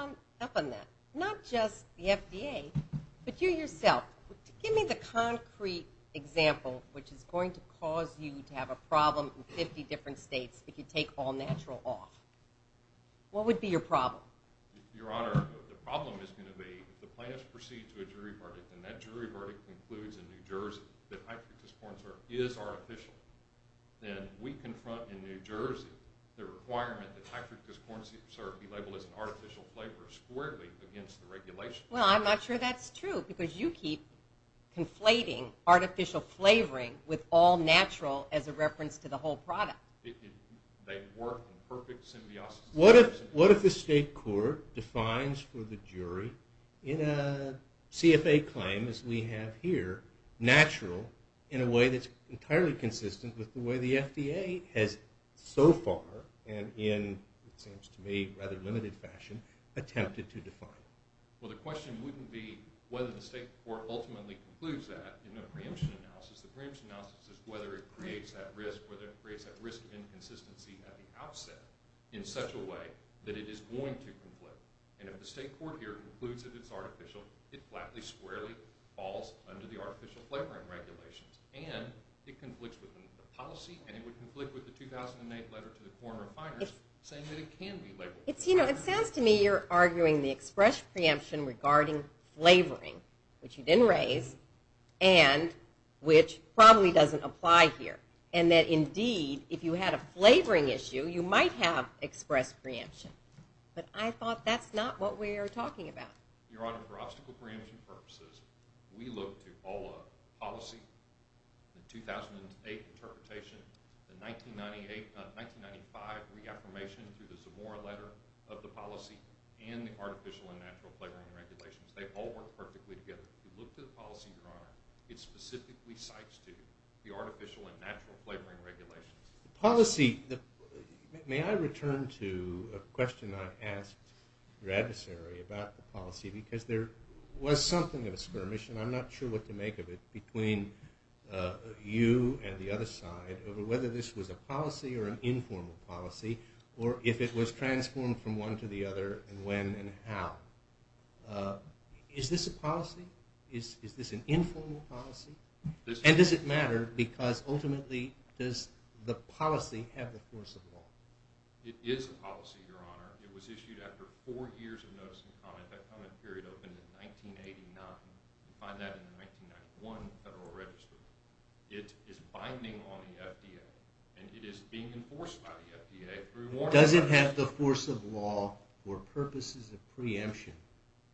up on that. Not just the FDA, but you yourself. if you take all natural off. What would be your problem? Your Honor, the problem is going to be if the plaintiffs proceed to a jury verdict, and that jury verdict concludes in New Jersey that hydrochloric acid is artificial, then we confront in New Jersey the requirement that hydrochloric acid be labeled as an artificial flavor squarely against the regulation. Well, I'm not sure that's true because you keep conflating artificial flavoring with all natural as a reference to the whole product. They work in perfect symbiosis. What if the state court defines for the jury in a CFA claim, as we have here, natural in a way that's entirely consistent with the way the FDA has so far, and in, it seems to me, rather limited fashion, attempted to define it? Well, the question wouldn't be whether the state court ultimately concludes that in a preemption analysis. The preemption analysis is whether it creates that risk, whether it creates that risk of inconsistency at the outset in such a way that it is going to conflict. And if the state court here concludes that it's artificial, it flatly, squarely falls under the artificial flavoring regulations, and it conflicts with the policy, and it would conflict with the 2008 letter to the corn refiners saying that it can be labeled. It sounds to me you're arguing the express preemption regarding flavoring, which you didn't raise, and which probably doesn't apply here, and that indeed if you had a flavoring issue, you might have expressed preemption. But I thought that's not what we're talking about. Your Honor, for obstacle preemption purposes, we looked at all the policy, the 2008 interpretation, the 1995 reaffirmation through the Zamora letter of the policy, and the artificial and natural flavoring regulations. They all work perfectly together. If you look to the policy, Your Honor, it specifically cites to the artificial and natural flavoring regulations. Policy. May I return to a question I asked your adversary about the policy, because there was something of a skirmish, and I'm not sure what to make of it, between you and the other side over whether this was a policy or an informal policy, or if it was transformed from one to the other, and when and how. Is this a policy? Is this an informal policy? And does it matter, because ultimately, does the policy have the force of law? It is a policy, Your Honor. It was issued after four years of notice and comment. That comment period opened in 1989. You find that in the 1991 Federal Register. It is binding on the FDA, and it is being enforced by the FDA through warrants. Does it have the force of law or purposes of preemption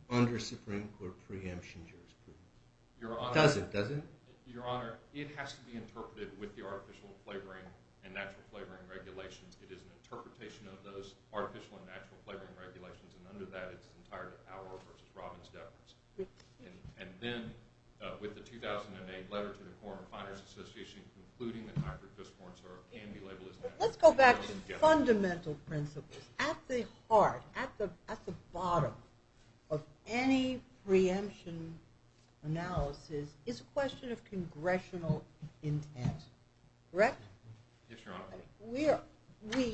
under Supreme Court preemption jurisprudence? It doesn't, does it? Your Honor, it has to be interpreted with the artificial flavoring and natural flavoring regulations. It is an interpretation of those artificial and natural flavoring regulations, and under that, it's the entirety of our versus Robin's deference. And then, with the 2008 letter to the Corn Refiners Association, including the Tiger Fist corn syrup, Let's go back to fundamental principles. At the heart, at the bottom of any preemption analysis is a question of congressional intent. Correct? Yes, Your Honor. We,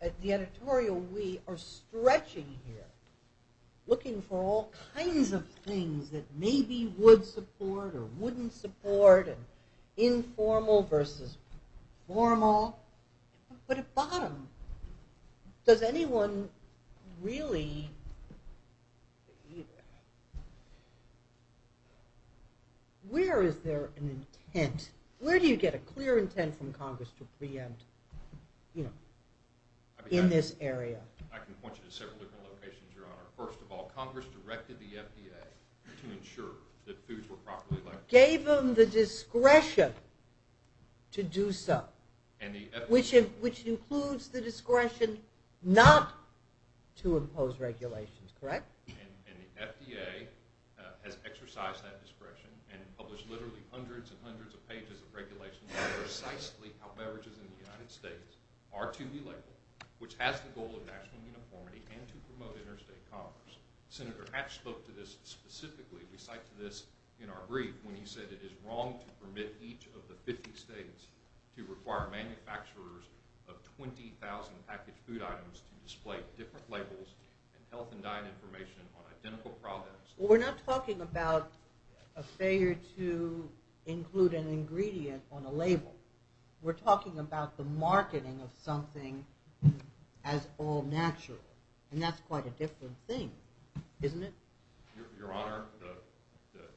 at the editorial, we are stretching here, looking for all kinds of things that maybe would support or wouldn't support, and informal versus formal. But at bottom, does anyone really see that? Where is there an intent? Where do you get a clear intent from Congress to preempt in this area? I can point you to several different locations, Your Honor. First of all, Congress directed the FDA to ensure that foods were properly labeled. Gave them the discretion to do so, which includes the discretion not to impose regulations. Correct? And the FDA has exercised that discretion and published literally hundreds and hundreds of pages of regulations on precisely how beverages in the United States are to be labeled, which has the goal of national uniformity and to promote interstate commerce. Senator Hatch spoke to this specifically. We cite to this in our brief when he said, it is wrong to permit each of the 50 states to require manufacturers of 20,000 packaged food items to display different labels and health and diet information on identical products. Well, we're not talking about a failure to include an ingredient on a label. We're talking about the marketing of something as all natural, and that's quite a different thing, isn't it? Your Honor,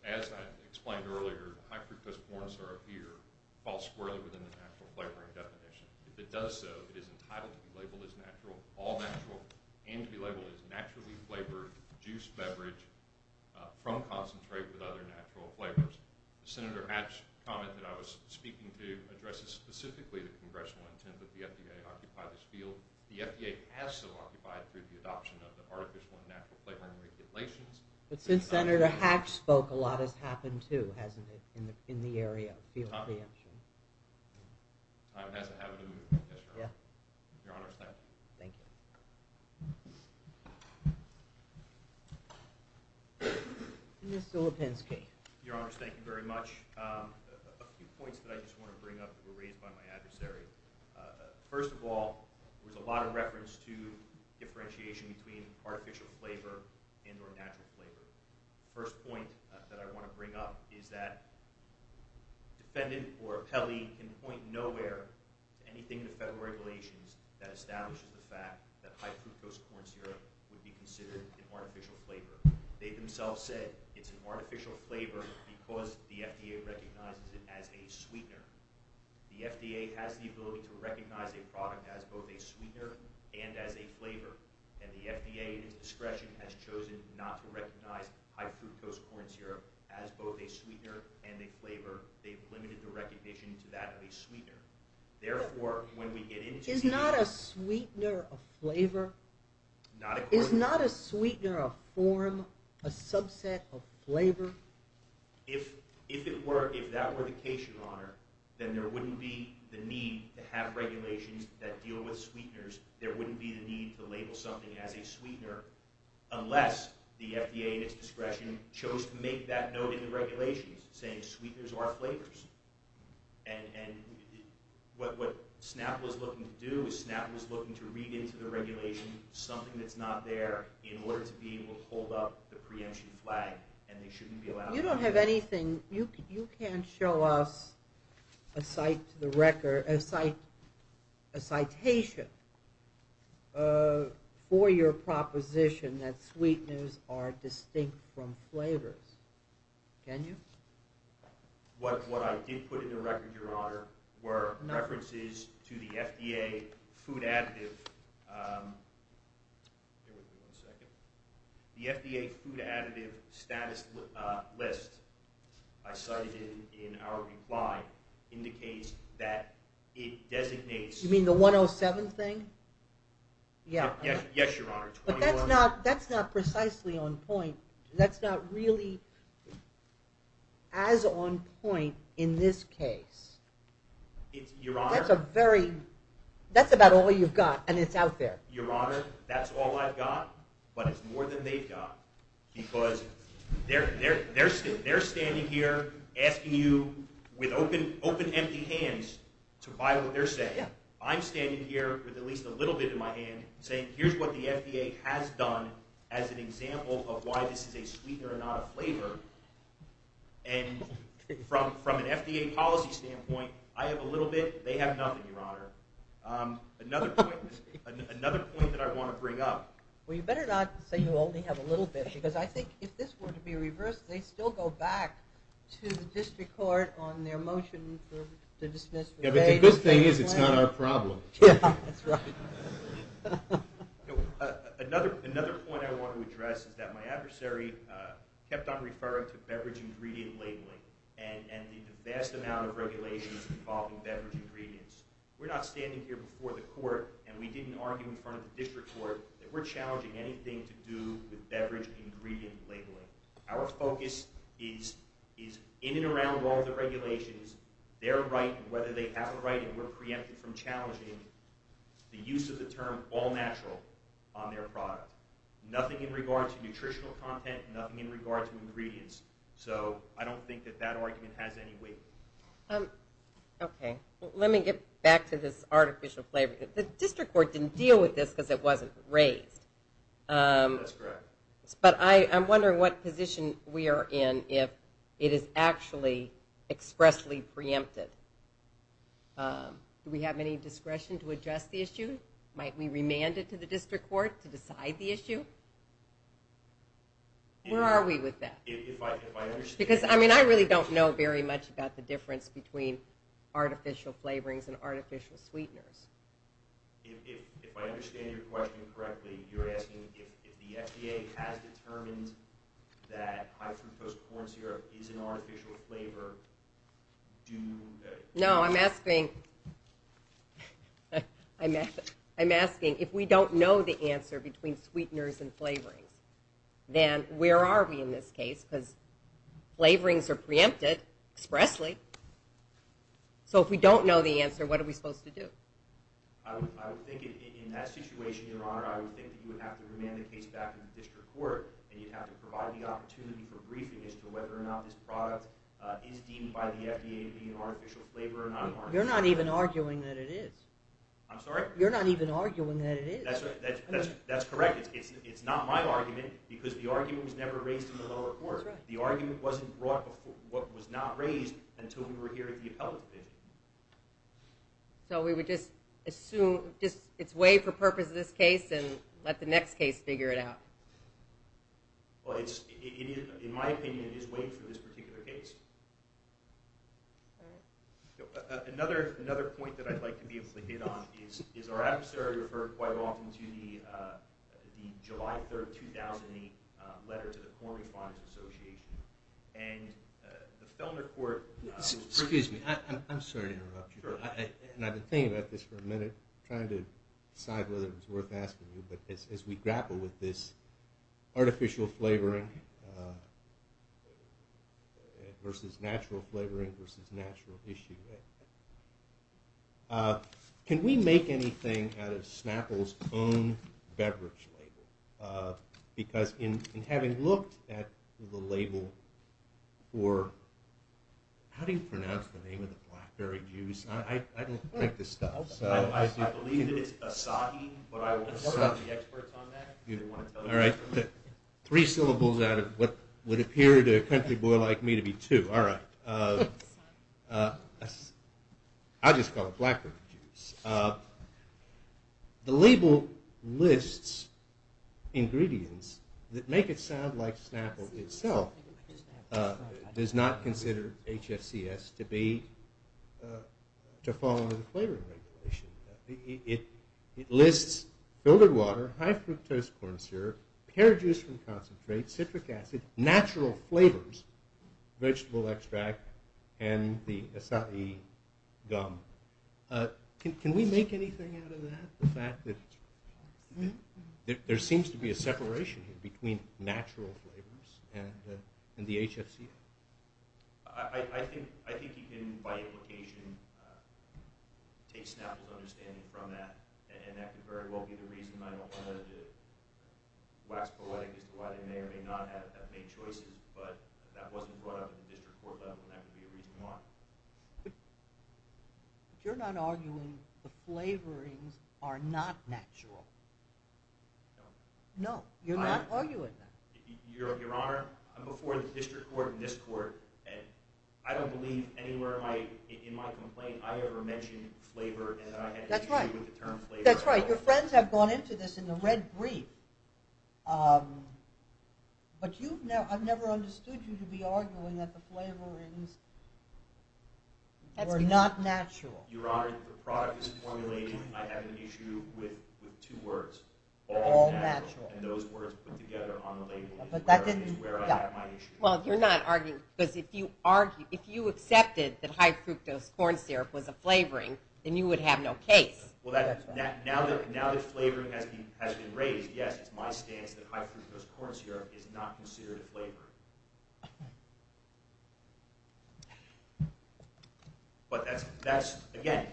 as I explained earlier, high fructose corn syrup here falls squarely within the natural flavoring definition. If it does so, it is entitled to be labeled as natural, all natural, and to be labeled as naturally flavored juice beverage from concentrate with other natural flavors. Senator Hatch's comment that I was speaking to addresses specifically the congressional intent that the FDA occupy this field. The FDA has still occupied it through the adoption of the Artificial and Natural Flavoring Regulations. But since Senator Hatch spoke, a lot has happened, too, hasn't it, in the area of field preemption? Time hasn't happened in the movement, yes, Your Honor. Your Honor, thank you. Thank you. Mr. Lipinski. Your Honor, thank you very much. A few points that I just want to bring up that were raised by my adversary. First of all, there was a lot of reference to differentiation between artificial flavor and or natural flavor. The first point that I want to bring up is that defendant or appellee can point nowhere to anything in the federal regulations that establishes the fact that high fructose corn syrup would be considered an artificial flavor. They themselves said it's an artificial flavor because the FDA recognizes it as a sweetener. The FDA has the ability to recognize a product as both a sweetener and as a flavor. And the FDA, at its discretion, has chosen not to recognize high fructose corn syrup as both a sweetener and a flavor. They've limited the recognition to that of a sweetener. Therefore, when we get into— Is not a sweetener a flavor? Is not a sweetener a form, a subset of flavor? If that were the case, Your Honor, then there wouldn't be the need to have regulations that deal with sweeteners. There wouldn't be the need to label something as a sweetener unless the FDA, at its discretion, chose to make that note in the regulations saying sweeteners are flavors. And what SNAP was looking to do is SNAP was looking to read into the regulation something that's not there in order to be able to hold up the preemption flag and they shouldn't be allowed— You don't have anything— You can't show us a citation for your proposition that sweeteners are distinct from flavors. Can you? What I did put in the record, Your Honor, were references to the FDA food additive— Bear with me one second. The FDA food additive status list I cited in our reply indicates that it designates— You mean the 107 thing? Yes, Your Honor. But that's not precisely on point. That's not really as on point in this case. That's a very— That's about all you've got and it's out there. Your Honor, that's all I've got, but it's more than they've got because they're standing here asking you with open, empty hands to buy what they're saying. I'm standing here with at least a little bit in my hand saying here's what the FDA has done as an example of why this is a sweetener and not a flavor. And from an FDA policy standpoint, I have a little bit, they have nothing, Your Honor. Another point that I want to bring up— Well, you better not say you only have a little bit because I think if this were to be reversed, they'd still go back to the district court on their motion to dismiss— Yeah, but the good thing is it's not our problem. Yeah, that's right. Another point I want to address is that my adversary kept on referring to beverage ingredient labeling and the vast amount of regulations involving beverage ingredients. We're not standing here before the court and we didn't argue in front of the district court that we're challenging anything to do with beverage ingredient labeling. Our focus is in and around all the regulations, their right and whether they have a right and we're preempted from challenging the use of the term all-natural on their product. Nothing in regard to nutritional content, nothing in regard to ingredients. So I don't think that that argument has any weight. Okay. Let me get back to this artificial flavor. The district court didn't deal with this because it wasn't raised. That's correct. But I'm wondering what position we are in if it is actually expressly preempted. Do we have any discretion to address the issue? Might we remand it to the district court to decide the issue? Where are we with that? Because, I mean, I really don't know very much about the difference between artificial flavorings and artificial sweeteners. If I understand your question correctly, you're asking if the FDA has determined that high-fructose corn syrup is an artificial flavor, do... No, I'm asking... I'm asking if we don't know the answer between sweeteners and flavorings, then where are we in this case? Because flavorings are preempted expressly. So if we don't know the answer, what are we supposed to do? I would think in that situation, Your Honor, I would think that you would have to remand the case back to the district court, and you'd have to provide the opportunity for briefing as to whether or not this product is deemed by the FDA to be an artificial flavor or not. You're not even arguing that it is. I'm sorry? You're not even arguing that it is. That's correct. It's not my argument, because the argument was never raised in the lower court. That's right. The argument wasn't brought before... was not raised until we were here at the appellate division. So we would just assume... just it's waived for purpose of this case and let the next case figure it out. Well, in my opinion, it is waived for this particular case. All right. Another point that I'd like to be able to hit on is our adversary referred quite often to the July 3, 2008, letter to the Corn Response Association. And the Fellner Court... Excuse me. I'm sorry to interrupt you. Sure. And I've been thinking about this for a minute, trying to decide whether it's worth asking you, but as we grapple with this artificial flavoring versus natural flavoring versus natural issue, can we make anything out of Snapple's own beverage label? Because in having looked at the label for... how do you pronounce the name of the blackberry juice? I don't drink this stuff. I believe it is Asahi, but I don't know the experts on that. All right. Three syllables out of what would appear to a country boy like me to be two. All right. I just call it blackberry juice. The label lists ingredients that make it sound like Snapple itself does not consider HFCS to be... to fall under the flavoring regulation. It lists filtered water, high fructose corn syrup, pear juice from concentrate, citric acid, natural flavors, vegetable extract, and the Asahi gum. Can we make anything out of that, the fact that there seems to be a separation between natural flavors and the HFCS? I think you can, by implication, take Snapple's understanding from that, and that could very well be the reason I don't want to wax poetic as to why they may or may not have made choices, but that wasn't brought up at the district court level, and that could be a reason why. You're not arguing the flavorings are not natural? No. No, you're not arguing that. Your Honor, I'm before the district court and this court, and I don't believe anywhere in my complaint I ever mentioned flavor, and I had to agree with the term flavor. That's right. Your friends have gone into this in the red brief. But I've never understood you to be arguing that the flavorings were not natural. Your Honor, the product is formulated, I have an issue with two words. All natural. And those words put together on the label is where I have my issue. Well, you're not arguing, because if you accepted that high fructose corn syrup was a flavoring, then you would have no case. Well, now that flavoring has been raised, yes, it's my stance that high fructose corn syrup is not considered a flavoring. But that's, again,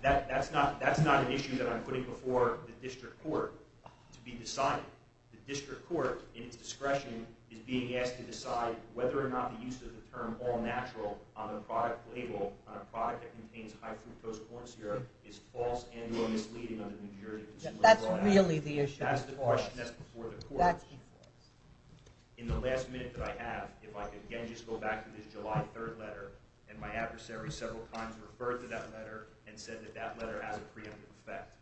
that's not an issue that I'm putting before the district court to be decided. The district court, in its discretion, is being asked to decide whether or not the use of the term all natural on the product label, on a product that contains high fructose corn syrup, is false and or misleading under the New Jersey Consumer Law Act. That's really the issue. That's the question that's before the court. In the last minute that I have, if I could again just go back to this July 3rd letter, and my adversary several times referred to that letter and said that that letter has a preemptive effect,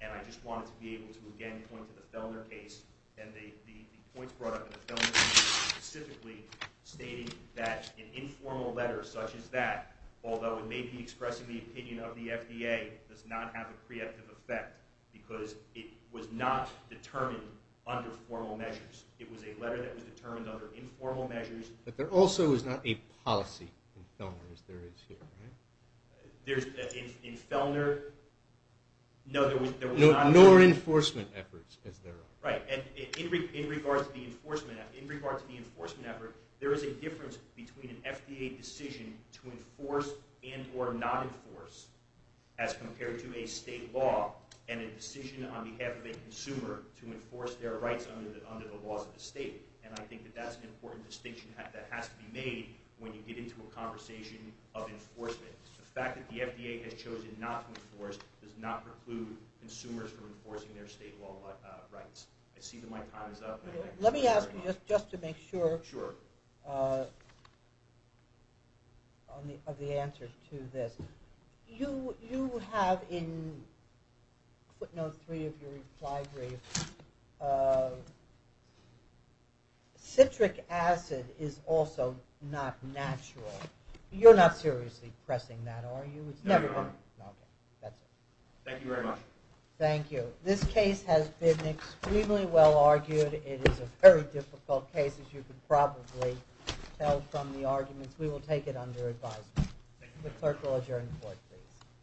and I just wanted to be able to again point to the Fellner case, and the points brought up in the Fellner case specifically stating that an informal letter such as that, although it may be expressing the opinion of the FDA, does not have a preemptive effect because it was not determined under formal measures. It was a letter that was determined under informal measures. But there also is not a policy in Fellner as there is here, right? In Fellner, no there was not. Nor enforcement efforts as there are. Right. And in regards to the enforcement effort, there is a difference between an FDA decision to enforce and or not enforce as compared to a state law and a decision on behalf of a consumer to enforce their rights under the laws of the state. And I think that that's an important distinction that has to be made when you get into a conversation of enforcement. The fact that the FDA has chosen not to enforce does not preclude consumers from enforcing their state law rights. I see that my time is up. Let me ask you just to make sure Sure. of the answer to this. You have in, I know three of your reply briefs, citric acid is also not natural. You're not seriously pressing that, are you? No, Your Honor. Okay, that's it. Thank you very much. Thank you. This case has been extremely well argued. It is a very difficult case as you could probably tell from the arguments. We will take it under advisement. The clerk will adjourn the court, please.